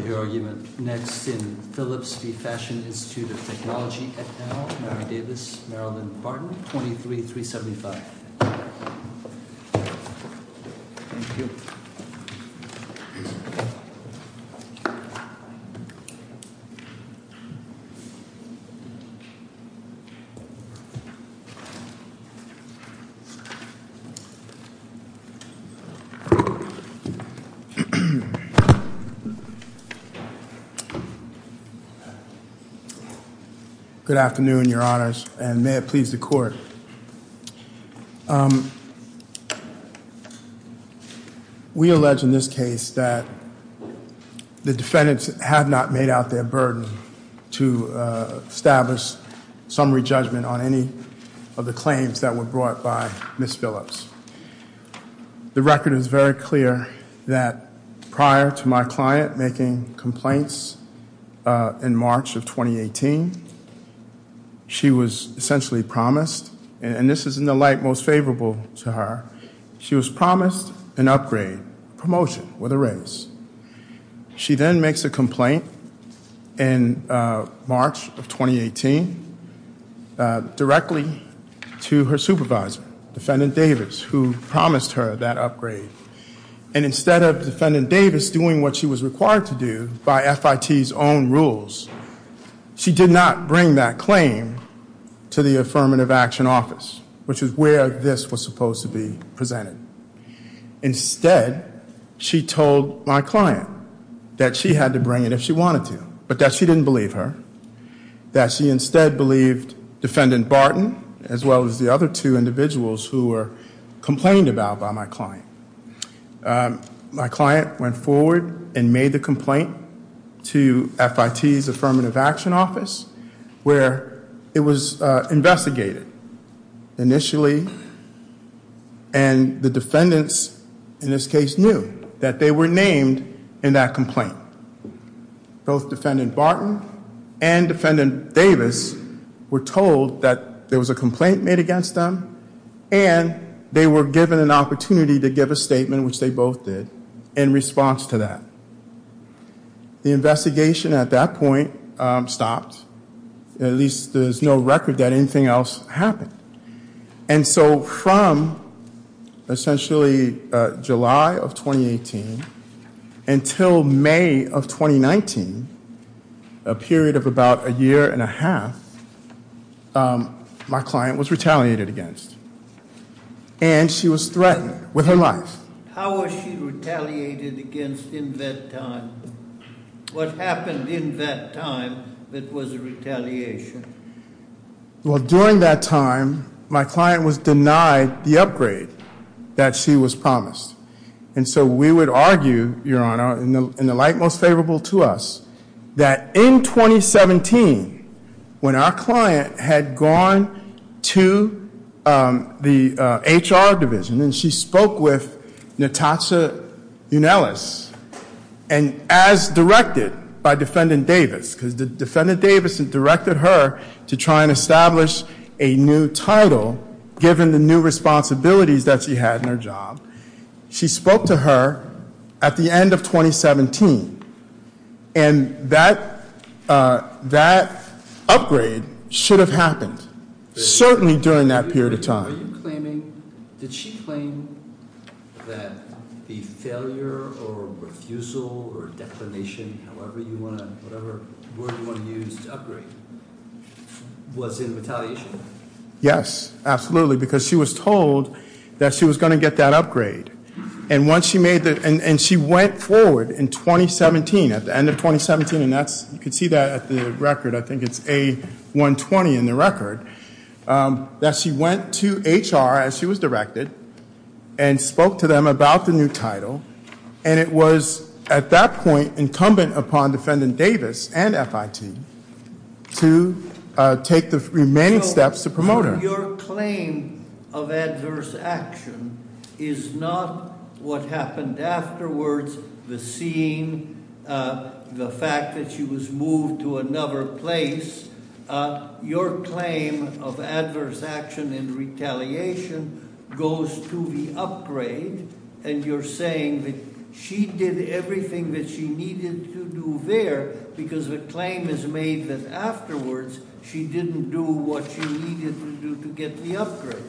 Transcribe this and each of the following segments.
At Now, Mary Davis, Marilyn Barton, 23, 375. Good afternoon, your honors, and may it please the court. We allege in this case that the defendants have not made out their burden to establish summary judgment on any of the claims that were brought by Ms. Phillips. The record is very clear that prior to my client making complaints in March of 2018, she was essentially promised, and this is in the light most favorable to her, she was promised an upgrade, promotion with a raise. She then makes a complaint in March of 2018 directly to her supervisor, Defendant Davis, who promised her that upgrade. And instead of Defendant Davis doing what she was required to do by FIT's own rules, she did not bring that claim to the Affirmative Action Office, which is where this was supposed to be presented. Instead, she told my client that she had to bring it if she wanted to, but that she didn't believe her, that she instead believed Defendant Barton as well as the other two individuals who were complained about by my client. My client went forward and made the complaint to FIT's Affirmative Action Office, where it was investigated initially, and the defendants in this case knew that they were named in that complaint. Both Defendant Barton and Defendant Davis were told that there was a complaint made against them, and they were given an opportunity to give a statement, which they both did, in response to that. The investigation at that point stopped. At least there's no record that anything else happened. And so from essentially July of 2018 until May of 2019, a period of about a year and a half, my client was retaliated against, and she was threatened with her life. How was she retaliated against in that time? What happened in that time that was a retaliation? Well, during that time, my client was denied the upgrade that she was promised. And so we would argue, Your Honor, in the light most favorable to us, that in 2017, when our client had gone to the HR division, and she spoke with Natasha Unelas, and as directed by Defendant Davis, because Defendant Davis had directed her to try and establish a new title, given the new responsibilities that she had in her job. She spoke to her at the end of 2017, and that upgrade should have happened, certainly during that period of time. Did she claim that the failure or refusal or declination, however you want to, whatever word you want to use to upgrade, was in retaliation? Yes, absolutely, because she was told that she was going to get that upgrade. And she went forward in 2017, at the end of 2017, and you can see that at the record. I think it's A120 in the record, that she went to HR, as she was directed, and spoke to them about the new title. And it was, at that point, incumbent upon Defendant Davis and FIT to take the remaining steps to promote her. Now, your claim of adverse action is not what happened afterwards, the scene, the fact that she was moved to another place. Your claim of adverse action in retaliation goes to the upgrade, and you're saying that she did everything that she needed to do there, because the claim is made that afterwards, she didn't do what she needed to do to get the upgrade.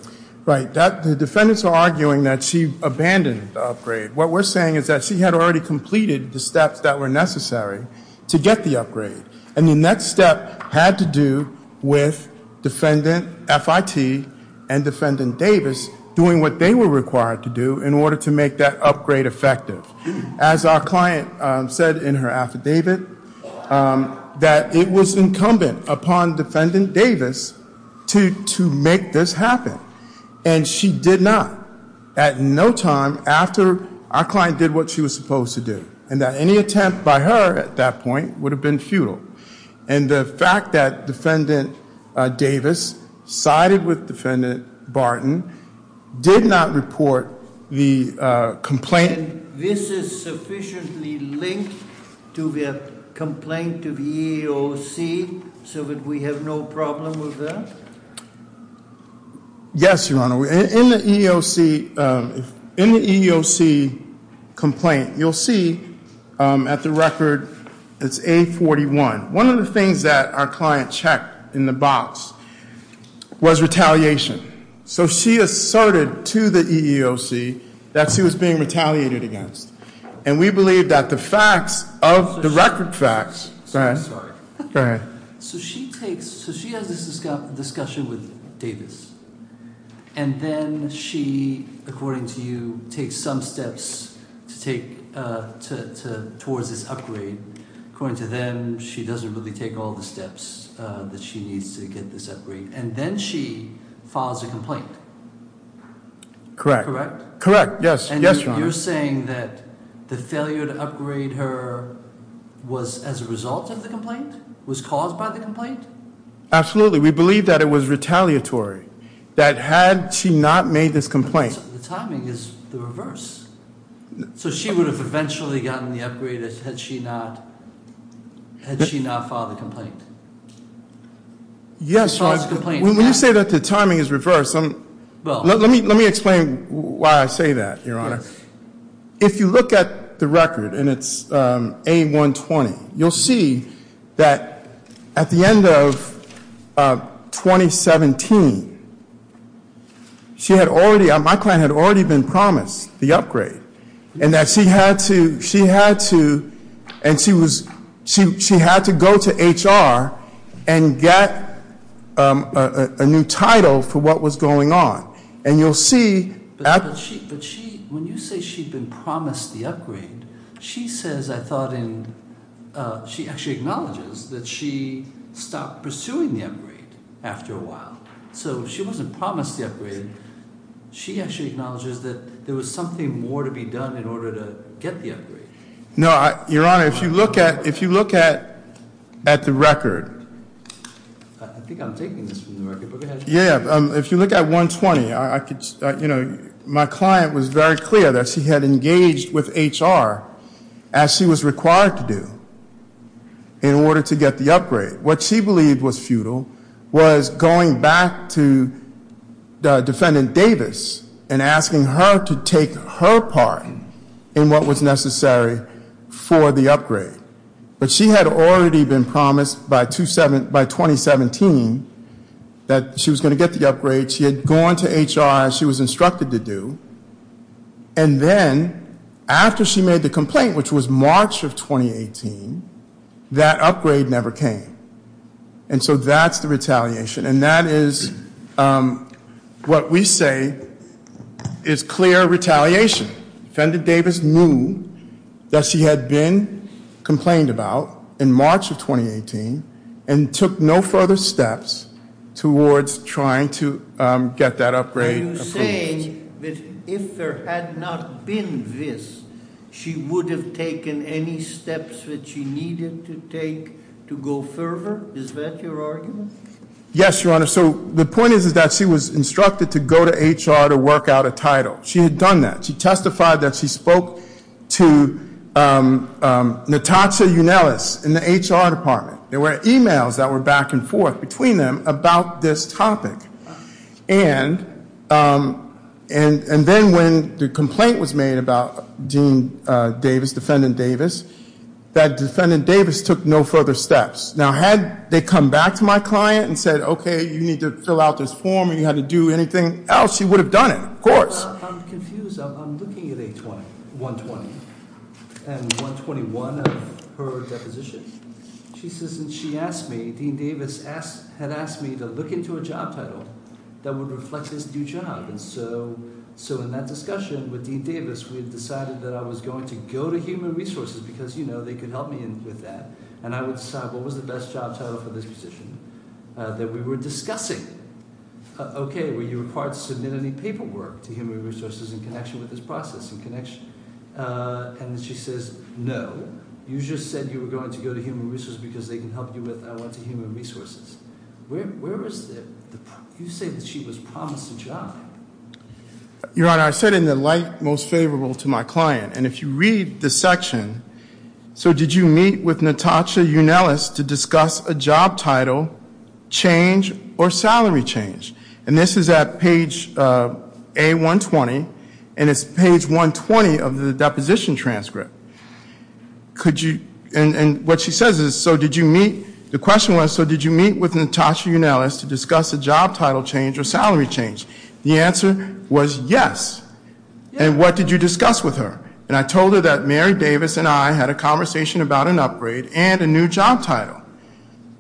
Right, the defendants are arguing that she abandoned the upgrade. What we're saying is that she had already completed the steps that were necessary to get the upgrade. And the next step had to do with Defendant FIT and Defendant Davis doing what they were required to do in order to make that upgrade effective. As our client said in her affidavit, that it was incumbent upon Defendant Davis to make this happen. And she did not, at no time after our client did what she was supposed to do. And that any attempt by her at that point would have been futile. And the fact that Defendant Davis sided with Defendant Barton did not report the complaint. And this is sufficiently linked to the complaint of EEOC so that we have no problem with that? Yes, Your Honor. In the EEOC complaint, you'll see at the record, it's A41. One of the things that our client checked in the box was retaliation. So she asserted to the EEOC that she was being retaliated against. And we believe that the facts of the record facts- Sorry. Go ahead. So she has this discussion with Davis. And then she, according to you, takes some steps towards this upgrade. According to them, she doesn't really take all the steps that she needs to get this upgrade. And then she files a complaint. Correct. Correct? Correct, yes. Yes, Your Honor. So you're saying that the failure to upgrade her was as a result of the complaint? Was caused by the complaint? Absolutely. We believe that it was retaliatory. That had she not made this complaint- The timing is the reverse. So she would have eventually gotten the upgrade had she not filed the complaint. Yes, Your Honor. When you say that the timing is reversed, I'm- Why I say that, Your Honor. If you look at the record and it's A120, you'll see that at the end of 2017, my client had already been promised the upgrade. And that she had to go to HR and get a new title for what was going on. And you'll see- But she, when you say she'd been promised the upgrade, she says, I thought, she actually acknowledges that she stopped pursuing the upgrade after a while. So she wasn't promised the upgrade. She actually acknowledges that there was something more to be done in order to get the upgrade. No, Your Honor, if you look at the record- Yeah, if you look at A120, my client was very clear that she had engaged with HR as she was required to do in order to get the upgrade. What she believed was futile was going back to Defendant Davis and asking her to take her part in what was necessary for the upgrade. But she had already been promised by 2017 that she was going to get the upgrade. She had gone to HR as she was instructed to do. And then after she made the complaint, which was March of 2018, that upgrade never came. And so that's the retaliation. And that is what we say is clear retaliation. Defendant Davis knew that she had been complained about in March of 2018 and took no further steps towards trying to get that upgrade approved. Are you saying that if there had not been this, she would have taken any steps that she needed to take to go further? Is that your argument? Yes, Your Honor. So the point is that she was instructed to go to HR to work out a title. She had done that. She testified that she spoke to Natasha Younelis in the HR department. There were e-mails that were back and forth between them about this topic. And then when the complaint was made about Dean Davis, Defendant Davis, that Defendant Davis took no further steps. Now, had they come back to my client and said, okay, you need to fill out this form and you had to do anything else, she would have done it, of course. I'm confused. I'm looking at 120 and 121 of her deposition. She says that she asked me, Dean Davis had asked me to look into a job title that would reflect his new job. And so in that discussion with Dean Davis, we had decided that I was going to go to Human Resources because, you know, they could help me with that. And I would decide what was the best job title for this position that we were discussing. Okay, were you required to submit any paperwork to Human Resources in connection with this process? And she says, no. You just said you were going to go to Human Resources because they can help you with I went to Human Resources. Where was the – you say that she was promised a job. Your Honor, I said in the light most favorable to my client. And if you read the section, so did you meet with Natasha Younelis to discuss a job title change or salary change? And this is at page A120, and it's page 120 of the deposition transcript. Could you – and what she says is, so did you meet – the question was, so did you meet with Natasha Younelis to discuss a job title change or salary change? The answer was yes. And what did you discuss with her? And I told her that Mary Davis and I had a conversation about an upgrade and a new job title.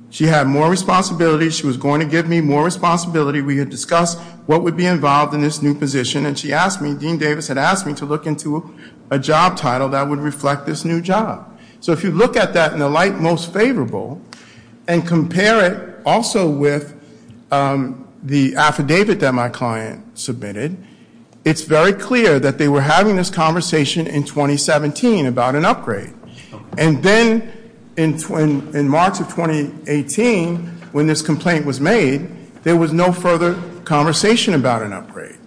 She had more responsibility. She was going to give me more responsibility. We had discussed what would be involved in this new position. And she asked me, Dean Davis had asked me to look into a job title that would reflect this new job. So if you look at that in the light most favorable and compare it also with the affidavit that my client submitted, it's very clear that they were having this conversation in 2017 about an upgrade. And then in March of 2018, when this complaint was made, there was no further conversation about an upgrade.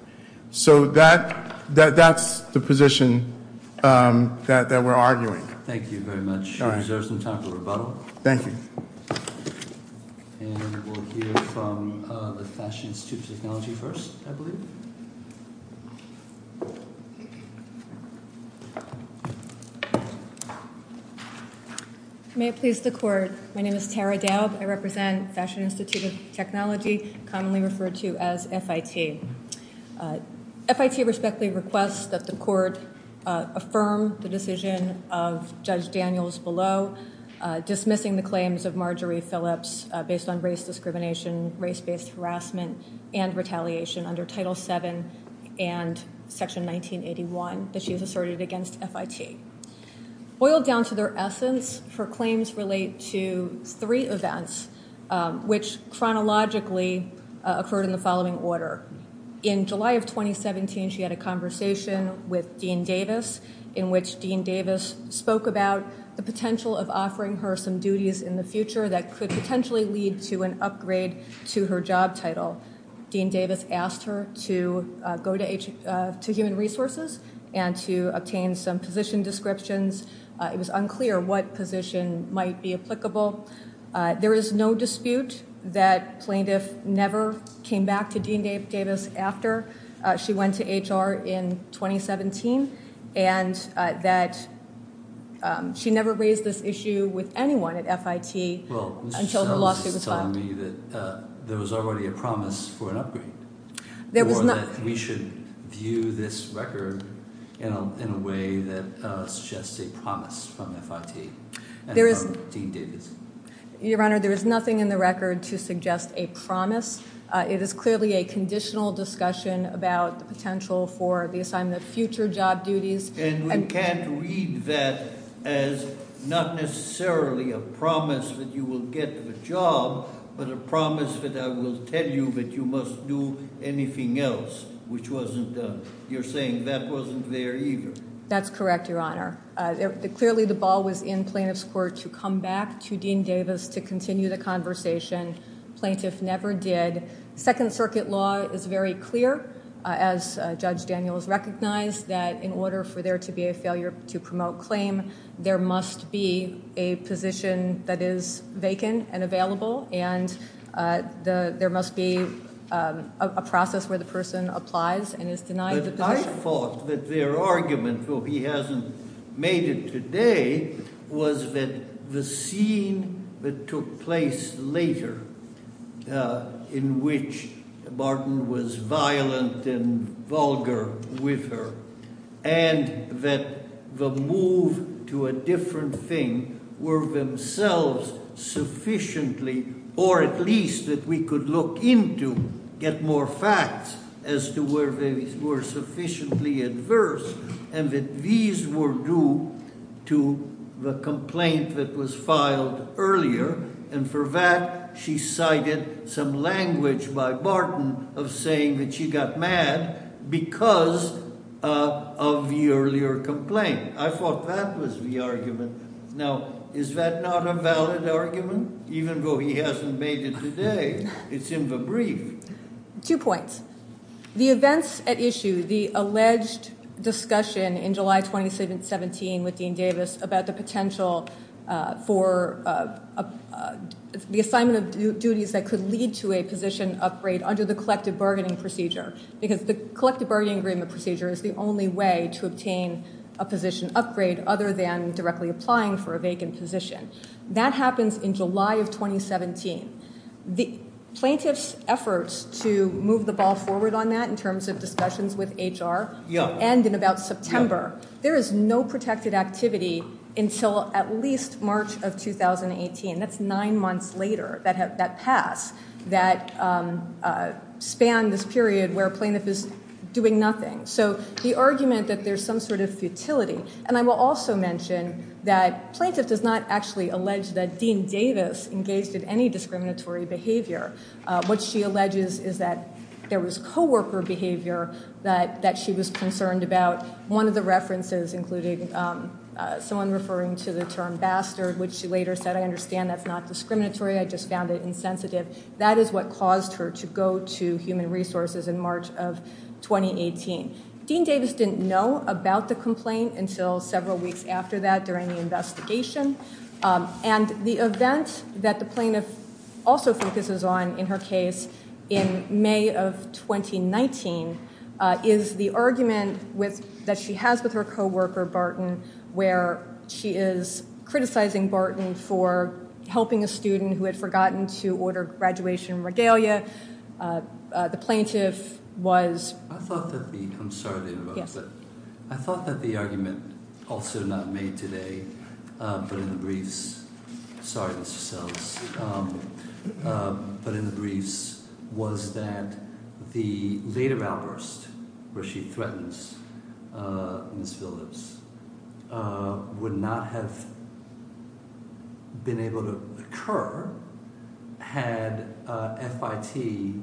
So that's the position that we're arguing. Thank you very much. You deserve some time for rebuttal. Thank you. And we'll hear from the Fashion Institute of Technology first, I believe. May it please the Court, my name is Tara Daub. I represent Fashion Institute of Technology, commonly referred to as FIT. FIT respectfully requests that the Court affirm the decision of Judge Daniels below, dismissing the claims of Marjorie Phillips based on race discrimination, race-based harassment, and retaliation under Title VII and Section 1981 that she has asserted against FIT. Boiled down to their essence, her claims relate to three events which chronologically occurred in the following order. In July of 2017, she had a conversation with Dean Davis, in which Dean Davis spoke about the potential of offering her some duties in the future that could potentially lead to an upgrade to her job title. Dean Davis asked her to go to Human Resources and to obtain some position descriptions. It was unclear what position might be applicable. There is no dispute that plaintiff never came back to Dean Davis after she went to HR in 2017 and that she never raised this issue with anyone at FIT until her lawsuit was filed. There was already a promise for an upgrade. We should view this record in a way that suggests a promise from FIT and from Dean Davis. Your Honor, there is nothing in the record to suggest a promise. It is clearly a conditional discussion about the potential for the assignment of future job duties. And we can't read that as not necessarily a promise that you will get the job, but a promise that I will tell you that you must do anything else, which wasn't done. You're saying that wasn't there either. That's correct, Your Honor. Clearly, the ball was in plaintiff's court to come back to Dean Davis to continue the conversation. Plaintiff never did. Second Circuit law is very clear, as Judge Daniels recognized, that in order for there to be a failure to promote claim, there must be a position that is vacant and available, and there must be a process where the person applies and is denied the position. I thought that their argument, though he hasn't made it today, was that the scene that took place later, in which Martin was violent and vulgar with her, and that the move to a different thing were themselves sufficiently, or at least that we could look into, get more facts as to where they were sufficiently adverse, and that these were due to the complaint that was filed earlier. And for that, she cited some language by Martin of saying that she got mad because of the earlier complaint. I thought that was the argument. Now, is that not a valid argument? Even though he hasn't made it today, it's in the brief. Two points. The events at issue, the alleged discussion in July 2017 with Dean Davis about the potential for the assignment of duties that could lead to a position upgrade under the collective bargaining procedure, because the collective bargaining agreement procedure is the only way to obtain a position upgrade, other than directly applying for a vacant position. That happens in July of 2017. The plaintiff's efforts to move the ball forward on that in terms of discussions with HR end in about September. There is no protected activity until at least March of 2018. That's nine months later, that pass that spanned this period where plaintiff is doing nothing. So the argument that there's some sort of futility. And I will also mention that plaintiff does not actually allege that Dean Davis engaged in any discriminatory behavior. What she alleges is that there was co-worker behavior that she was concerned about. One of the references included someone referring to the term bastard, which she later said, I understand that's not discriminatory. I just found it insensitive. That is what caused her to go to human resources in March of 2018. Dean Davis didn't know about the complaint until several weeks after that during the investigation. And the event that the plaintiff also focuses on in her case in May of 2019 is the argument that she has with her co-worker, Barton, where she is criticizing Barton for helping a student who had forgotten to order graduation regalia. The plaintiff was. I'm sorry to interrupt, but I thought that the argument also not made today, but in the briefs. But in the briefs was that the later outburst where she threatens Ms. Phillips would not have been able to occur had FIT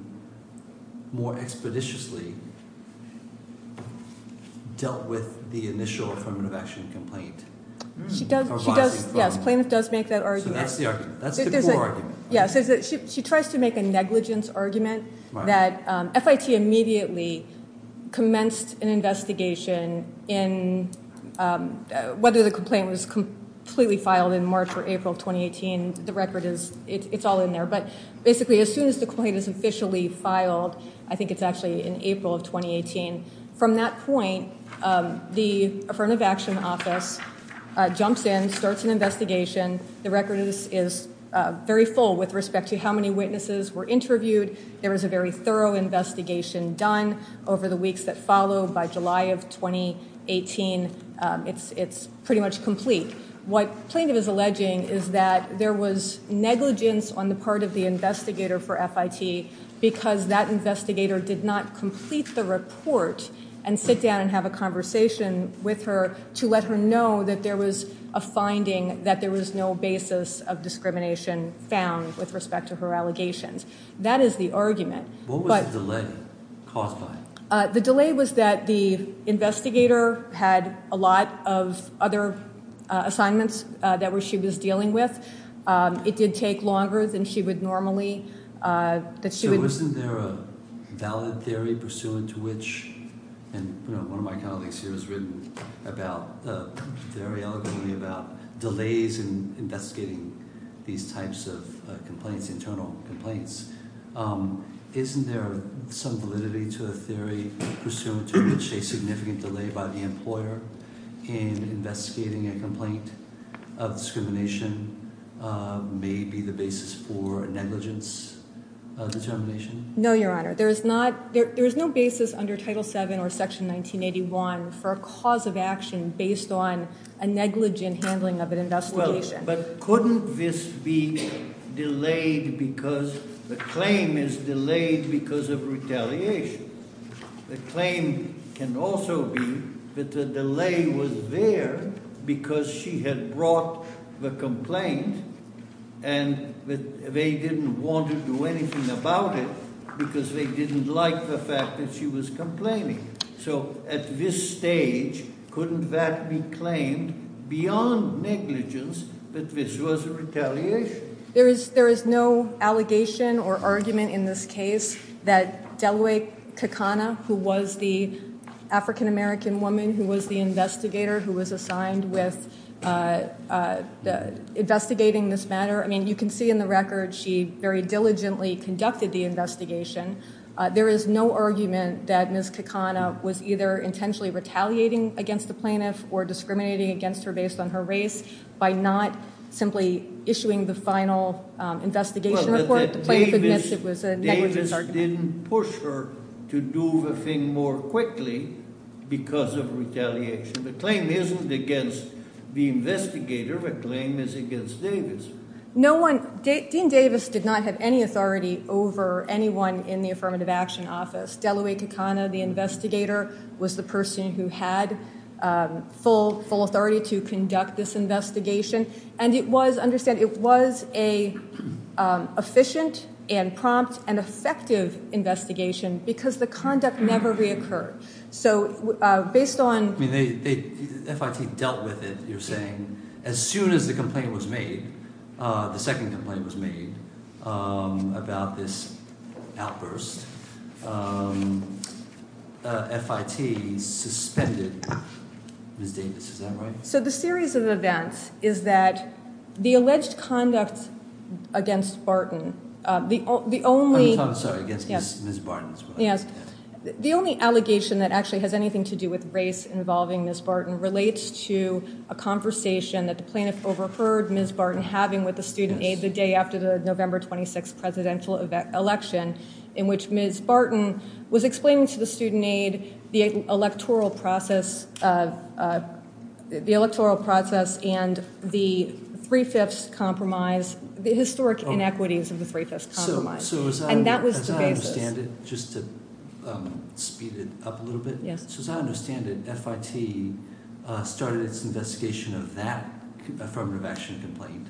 more expeditiously dealt with the initial affirmative action complaint. She does. Yes. Plaintiff does make that argument. Yes. She tries to make a negligence argument that FIT immediately commenced an investigation in whether the complaint was completely filed in March or April 2018. The record is it's all in there. But basically, as soon as the complaint is officially filed, I think it's actually in April of 2018. From that point, the affirmative action office jumps in, starts an investigation. The record is very full with respect to how many witnesses were interviewed. There is a very thorough investigation done over the weeks that follow. By July of 2018, it's pretty much complete. What plaintiff is alleging is that there was negligence on the part of the investigator for FIT because that investigator did not complete the report and sit down and have a conversation with her to let her know that there was a finding that there was no basis of discrimination found with respect to her allegations. That is the argument. What was the delay caused by? The delay was that the investigator had a lot of other assignments that she was dealing with. It did take longer than she would normally. So isn't there a valid theory pursuant to which, and one of my colleagues here has written very eloquently about delays in investigating these types of internal complaints. Isn't there some validity to a theory pursuant to which a significant delay by the employer in investigating a complaint of discrimination may be the basis for a negligence determination? No, Your Honor. There is no basis under Title VII or Section 1981 for a cause of action based on a negligent handling of an investigation. But couldn't this be delayed because the claim is delayed because of retaliation? The claim can also be that the delay was there because she had brought the complaint and they didn't want to do anything about it because they didn't like the fact that she was complaining. So at this stage, couldn't that be claimed beyond negligence that this was a retaliation? There is no allegation or argument in this case that Delaware Kakana, who was the African-American woman who was the investigator who was assigned with investigating this matter. I mean, you can see in the record she very diligently conducted the investigation. There is no argument that Ms. Kakana was either intentionally retaliating against the plaintiff or discriminating against her based on her race by not simply issuing the final investigation report. The plaintiff admits it was a negligence. Davis didn't push her to do the thing more quickly because of retaliation. The claim isn't against the investigator. The claim is against Davis. Dean Davis did not have any authority over anyone in the Affirmative Action Office. Delaware Kakana, the investigator, was the person who had full authority to conduct this investigation. And it was, understand, it was an efficient and prompt and effective investigation because the conduct never reoccurred. I mean, FIT dealt with it, you're saying. As soon as the complaint was made, the second complaint was made about this outburst, FIT suspended Ms. Davis. Is that right? So the series of events is that the alleged conduct against Barton, the only… I'm sorry, against Ms. Barton as well. The only allegation that actually has anything to do with race involving Ms. Barton relates to a conversation that the plaintiff overheard Ms. Barton having with the student aid the day after the November 26th presidential election, in which Ms. Barton was explaining to the student aid the electoral process and the three-fifths compromise, the historic inequities of the three-fifths compromise. And that was the basis. As I understand it, just to speed it up a little bit. Yes. So as I understand it, FIT started its investigation of that Affirmative Action complaint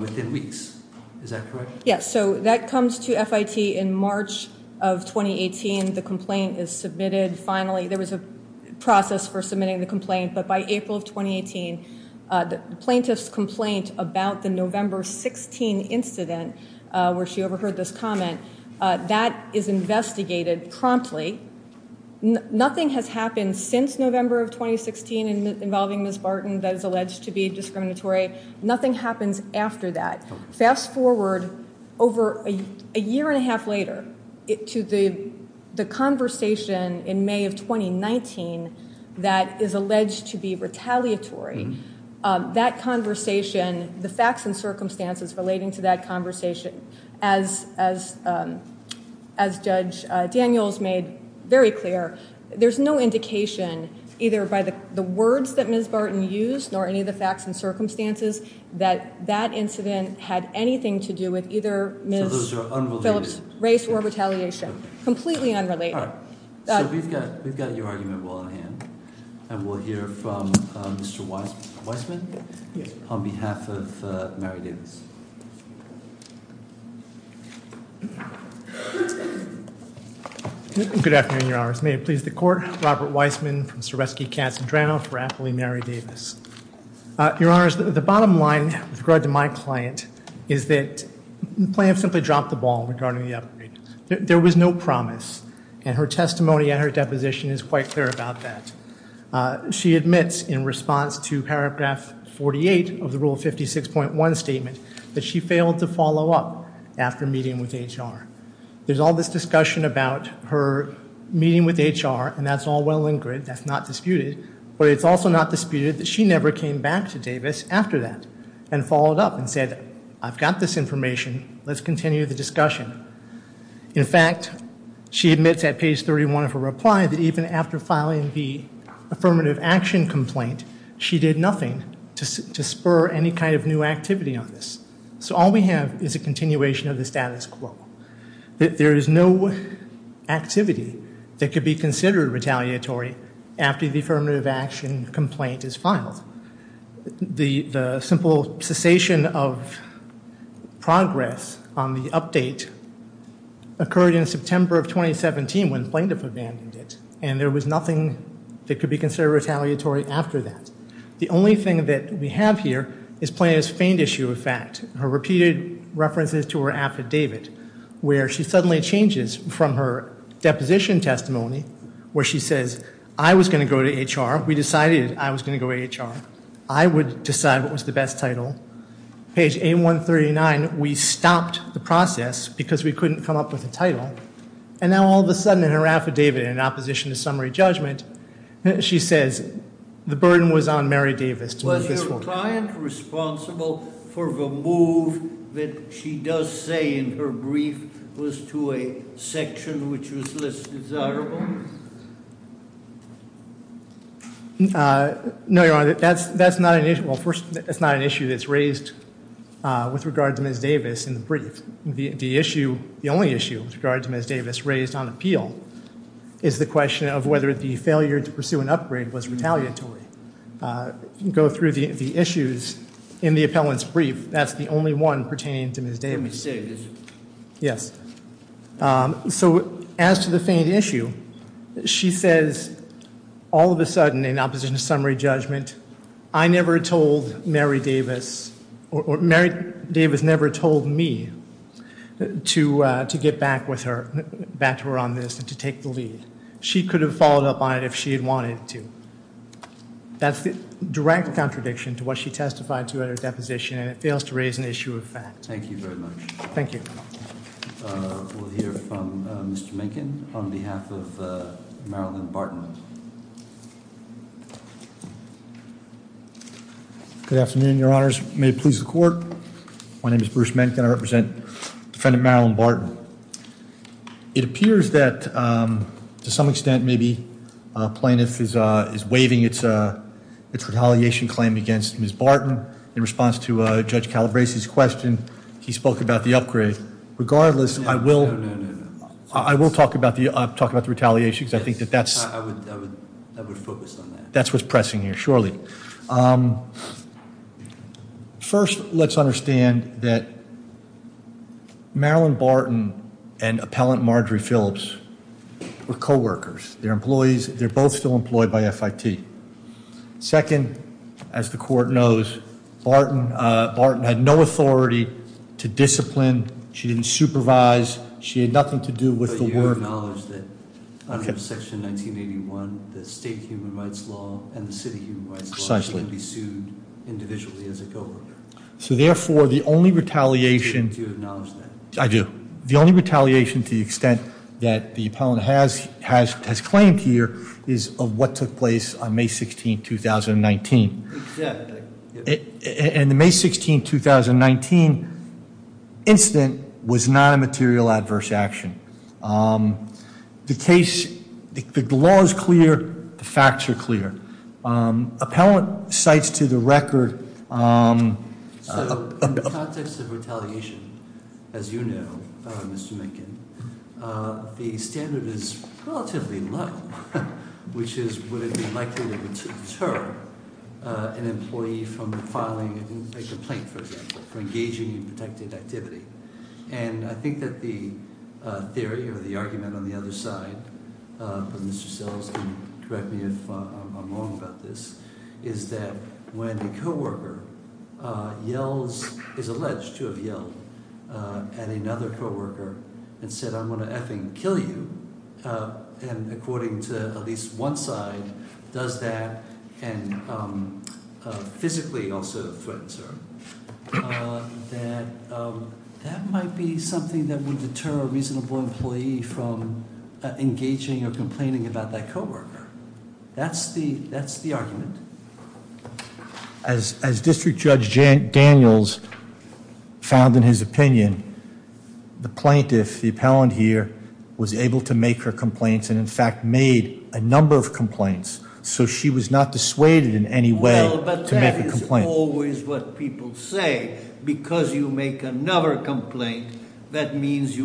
within weeks. Is that correct? Yes. So that comes to FIT in March of 2018. The complaint is submitted finally. There was a process for submitting the complaint, but by April of 2018, the plaintiff's complaint about the November 16 incident where she overheard this comment, that is investigated promptly. Nothing has happened since November of 2016 involving Ms. Barton that is alleged to be discriminatory. Nothing happens after that. Fast forward over a year and a half later to the conversation in May of 2019 that is alleged to be retaliatory. That conversation, the facts and circumstances relating to that conversation, as Judge Daniels made very clear, there's no indication either by the words that Ms. Barton used nor any of the facts and circumstances that that incident had anything to do with either Ms. Phillips' race or retaliation. Completely unrelated. All right. So we've got your argument well in hand, and we'll hear from Mr. Weissman on behalf of Mary Davis. Good afternoon, Your Honors. May it please the Court, Robert Weissman from Suresky-Casadrano for Appley Mary Davis. Your Honors, the bottom line with regard to my client is that the plaintiff simply dropped the ball regarding the upgrade. There was no promise, and her testimony and her deposition is quite clear about that. She admits in response to paragraph 48 of the Rule 56.1 statement that she failed to follow up after meeting with HR. There's all this discussion about her meeting with HR, and that's all well and good. That's not disputed. But it's also not disputed that she never came back to Davis after that and followed up and said, I've got this information. Let's continue the discussion. In fact, she admits at page 31 of her reply that even after filing the affirmative action complaint, she did nothing to spur any kind of new activity on this. So all we have is a continuation of the status quo, that there is no activity that could be considered retaliatory after the affirmative action complaint is filed. The simple cessation of progress on the update occurred in September of 2017 when the plaintiff abandoned it, and there was nothing that could be considered retaliatory after that. The only thing that we have here is Plaintiff's feigned issue of fact, her repeated references to her affidavit, where she suddenly changes from her deposition testimony where she says, I was going to go to HR. We decided I was going to go to HR. I would decide what was the best title. Page 8139, we stopped the process because we couldn't come up with a title. And now all of a sudden in her affidavit in opposition to summary judgment, she says, the burden was on Mary Davis to move this forward. Was your client responsible for the move that she does say in her brief was to a section which was less desirable? No, Your Honor. That's not an issue. Well, first, that's not an issue that's raised with regard to Ms. Davis in the brief. The only issue with regard to Ms. Davis raised on appeal is the question of whether the failure to pursue an upgrade was retaliatory. Go through the issues in the appellant's brief. That's the only one pertaining to Ms. Davis. Let me say this. Yes. So as to the feigned issue, she says, all of a sudden in opposition to summary judgment, I never told Mary Davis, or Mary Davis never told me to get back with her, back to her on this and to take the lead. She could have followed up on it if she had wanted to. That's the direct contradiction to what she testified to at her deposition, and it fails to raise an issue of fact. Thank you very much. Thank you. We'll hear from Mr. Minkin on behalf of Marilyn Barton. Good afternoon, Your Honors. May it please the Court. My name is Bruce Minkin. I represent Defendant Marilyn Barton. It appears that to some extent maybe a plaintiff is waiving its retaliation claim against Ms. Barton. In response to Judge Calabresi's question, he spoke about the upgrade. Regardless, I will talk about the retaliation because I think that that's what's pressing here. Surely. First, let's understand that Marilyn Barton and Appellant Marjorie Phillips were co-workers. They're employees. They're both still employed by FIT. Second, as the Court knows, Barton had no authority to discipline. She didn't supervise. She had nothing to do with the work. Okay. Precisely. So, therefore, the only retaliation- I do. The only retaliation to the extent that the appellant has claimed here is of what took place on May 16, 2019. And the May 16, 2019 incident was not a material adverse action. The case, the law is clear. The facts are clear. Appellant cites to the record- So, in the context of retaliation, as you know, Mr. Minkin, the standard is relatively low, which is would it be likely to deter an employee from filing a complaint, for example, for engaging in protected activity. And I think that the theory or the argument on the other side, if Mr. Sellers can correct me if I'm wrong about this, is that when a co-worker yells- is alleged to have yelled at another co-worker and said, I'm going to effing kill you, and according to at least one side does that and physically also threatens her, that that might be something that would deter a reasonable employee from engaging or complaining about that co-worker. That's the argument. As District Judge Daniels found in his opinion, the plaintiff, the appellant here, was able to make her complaints and in fact made a number of complaints. So she was not dissuaded in any way to make a complaint. Well, but that is always what people say. Because you make another complaint, that means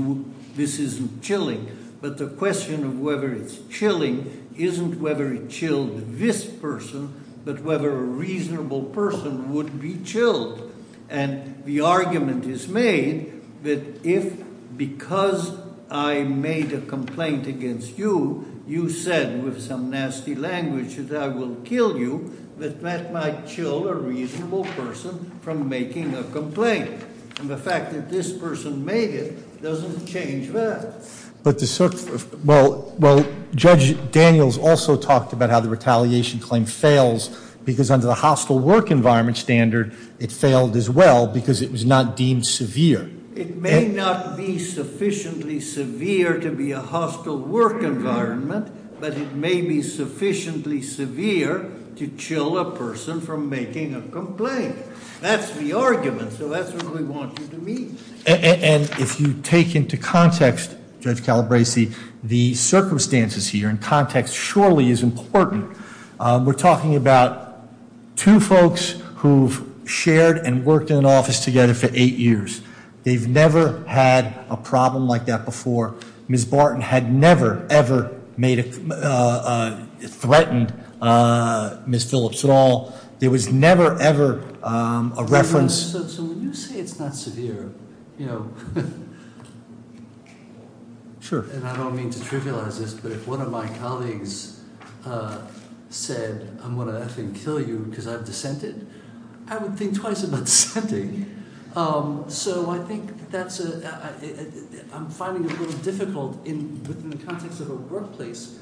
this isn't chilling. But the question of whether it's chilling isn't whether it chilled this person, but whether a reasonable person would be chilled. And the argument is made that if, because I made a complaint against you, you said with some nasty language that I will kill you, that that might chill a reasonable person from making a complaint. And the fact that this person made it doesn't change that. Well, Judge Daniels also talked about how the retaliation claim fails, because under the hostile work environment standard, it failed as well because it was not deemed severe. It may not be sufficiently severe to be a hostile work environment, but it may be sufficiently severe to chill a person from making a complaint. That's the argument, so that's what we want you to mean. And if you take into context, Judge Calabresi, the circumstances here, and context surely is important. We're talking about two folks who've shared and worked in an office together for eight years. They've never had a problem like that before. Ms. Barton had never, ever threatened Ms. Phillips at all. There was never, ever a reference- So when you say it's not severe, you know, and I don't mean to trivialize this, but if one of my colleagues said, I'm going to effing kill you because I've dissented, I would think twice about dissenting. So I think that's a- I'm finding it a little difficult within the context of a workplace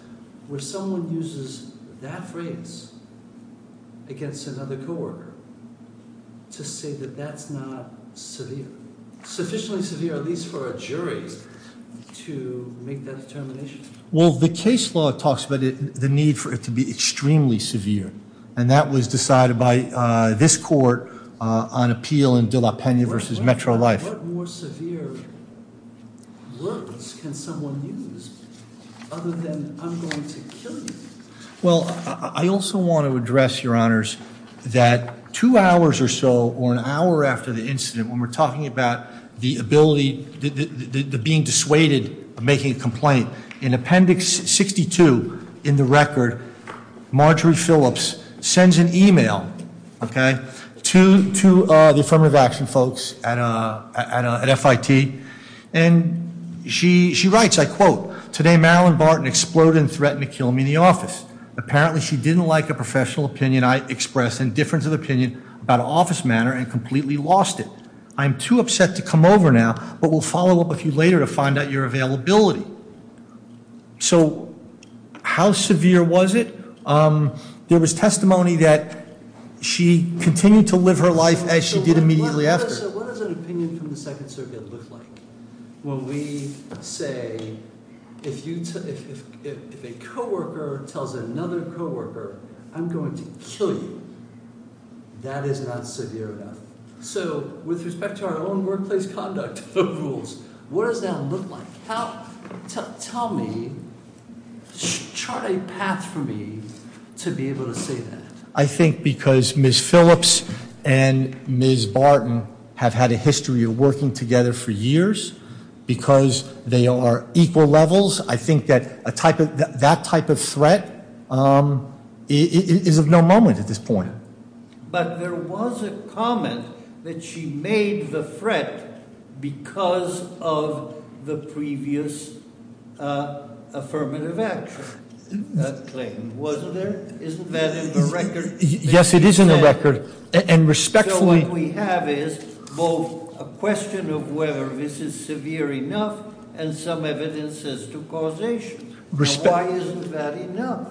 where someone uses that phrase against another co-worker to say that that's not severe, sufficiently severe at least for a jury to make that determination. Well, the case law talks about the need for it to be extremely severe, and that was decided by this court on appeal in De La Pena versus Metro Life. What more severe words can someone use other than I'm going to kill you? Well, I also want to address, your honors, that two hours or so, or an hour after the incident, when we're talking about the ability, the being dissuaded of making a complaint, in appendix 62 in the record, Marjorie Phillips sends an email, okay, to the affirmative action folks at FIT, and she writes, I quote, today Marilyn Barton exploded and threatened to kill me in the office. Apparently she didn't like a professional opinion I expressed in difference of opinion about an office matter and completely lost it. I'm too upset to come over now, but will follow up with you later to find out your availability. So how severe was it? There was testimony that she continued to live her life as she did immediately after. So what does an opinion from the Second Circuit look like when we say, if a co-worker tells another co-worker, I'm going to kill you, that is not severe enough. So with respect to our own workplace conduct rules, what does that look like? Tell me, chart a path for me to be able to say that. I think because Ms. Phillips and Ms. Barton have had a history of working together for years. Because they are equal levels, I think that type of threat is of no moment at this point. But there was a comment that she made the threat because of the previous affirmative action claim, wasn't there? Isn't that in the record? Yes, it is in the record. And respectfully- So what we have is both a question of whether this is severe enough and some evidence as to causation. Why isn't that enough?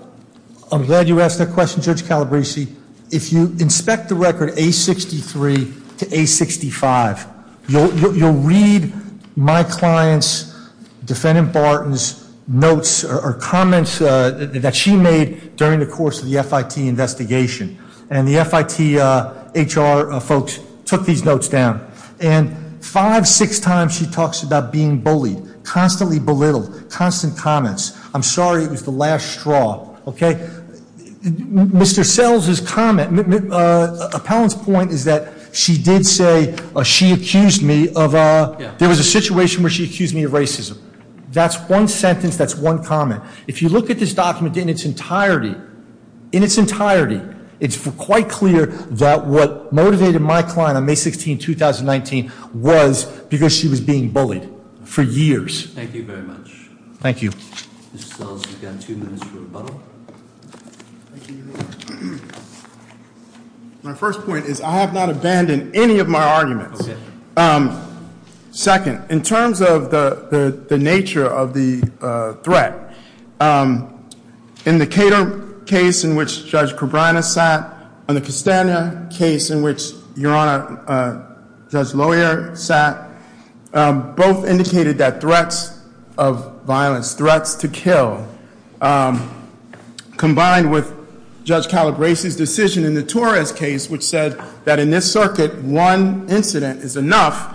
I'm glad you asked that question, Judge Calabresi. If you inspect the record A63 to A65, you'll read my client's, Defendant Barton's notes or comments that she made during the course of the FIT investigation. And the FIT HR folks took these notes down. And five, six times she talks about being bullied, constantly belittled, constant comments. I'm sorry it was the last straw, okay? Mr. Sells' comment, Appellant's point is that she did say she accused me of, there was a situation where she accused me of racism. That's one sentence, that's one comment. If you look at this document in its entirety, in its entirety, it's quite clear that what motivated my client on May 16, 2019 was because she was being bullied for years. Thank you very much. Thank you. Mr. Sells, you've got two minutes for rebuttal. Thank you, Your Honor. My first point is I have not abandoned any of my arguments. Okay. Second, in terms of the nature of the threat, in the Cater case in which Judge Cabrera sat, and the Castagna case in which Your Honor, Judge Lawyer sat, both indicated that threats of violence, threats to kill, combined with Judge Calabrese's decision in the Torres case, which said that in this circuit, one incident is enough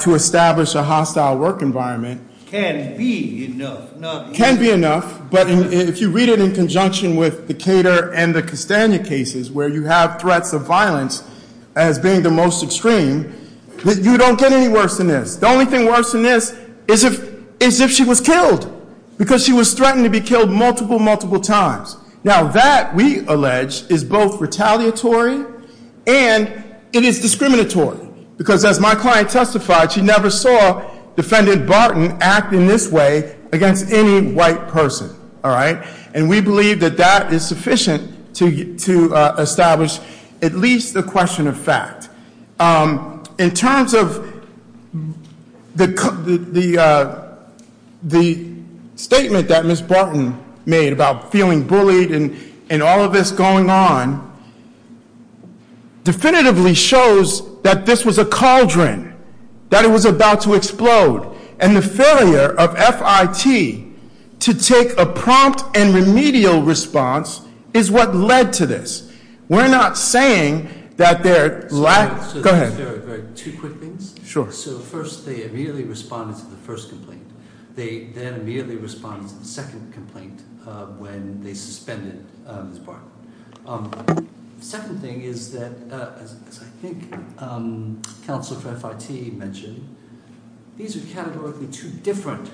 to establish a hostile work environment. Can be enough, not enough. Can be enough, but if you read it in conjunction with the Cater and the Castagna cases, where you have threats of violence as being the most extreme, you don't get any worse than this. The only thing worse than this is if she was killed because she was threatened to be killed multiple, multiple times. Now, that, we allege, is both retaliatory and it is discriminatory because, as my client testified, she never saw Defendant Barton acting this way against any white person. All right? And we believe that that is sufficient to establish at least a question of fact. In terms of the statement that Ms. Barton made about feeling bullied and all of this going on, definitively shows that this was a cauldron, that it was about to explode, and the failure of FIT to take a prompt and remedial response is what led to this. We're not saying that there lacked- Go ahead. Two quick things. Sure. So first, they immediately responded to the first complaint. They then immediately responded to the second complaint when they suspended Ms. Barton. Second thing is that, as I think Counselor for FIT mentioned, these are categorically two different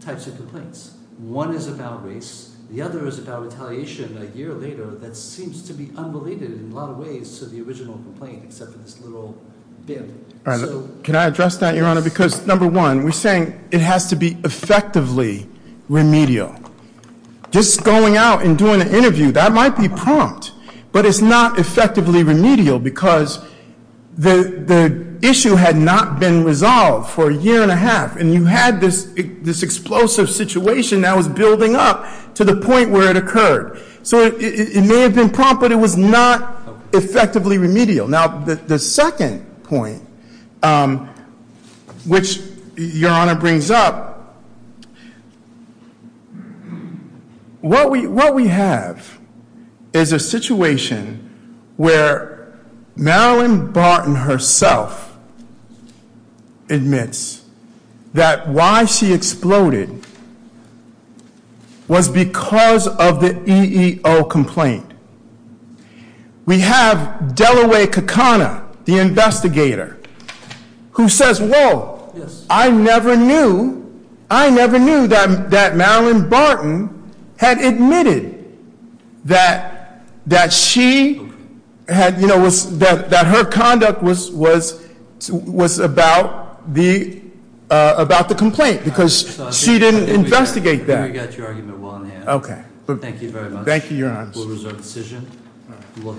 types of complaints. One is about race. The other is about retaliation a year later that seems to be unrelated in a lot of ways to the original complaint except for this little bit. All right. Can I address that, Your Honor? Because, number one, we're saying it has to be effectively remedial. Just going out and doing an interview, that might be prompt, but it's not effectively remedial because the issue had not been resolved for a year and a half, and you had this explosive situation that was building up to the point where it occurred. So it may have been prompt, but it was not effectively remedial. Now, the second point, which Your Honor brings up, what we have is a situation where Marilyn Barton herself admits that why she exploded was because of the EEO complaint. We have Delaware Kakana, the investigator, who says, whoa, I never knew that Marilyn Barton had admitted that her conduct was about the complaint because she didn't investigate that. We got your argument well in the end. Okay. Thank you very much. That concludes our decision. All right.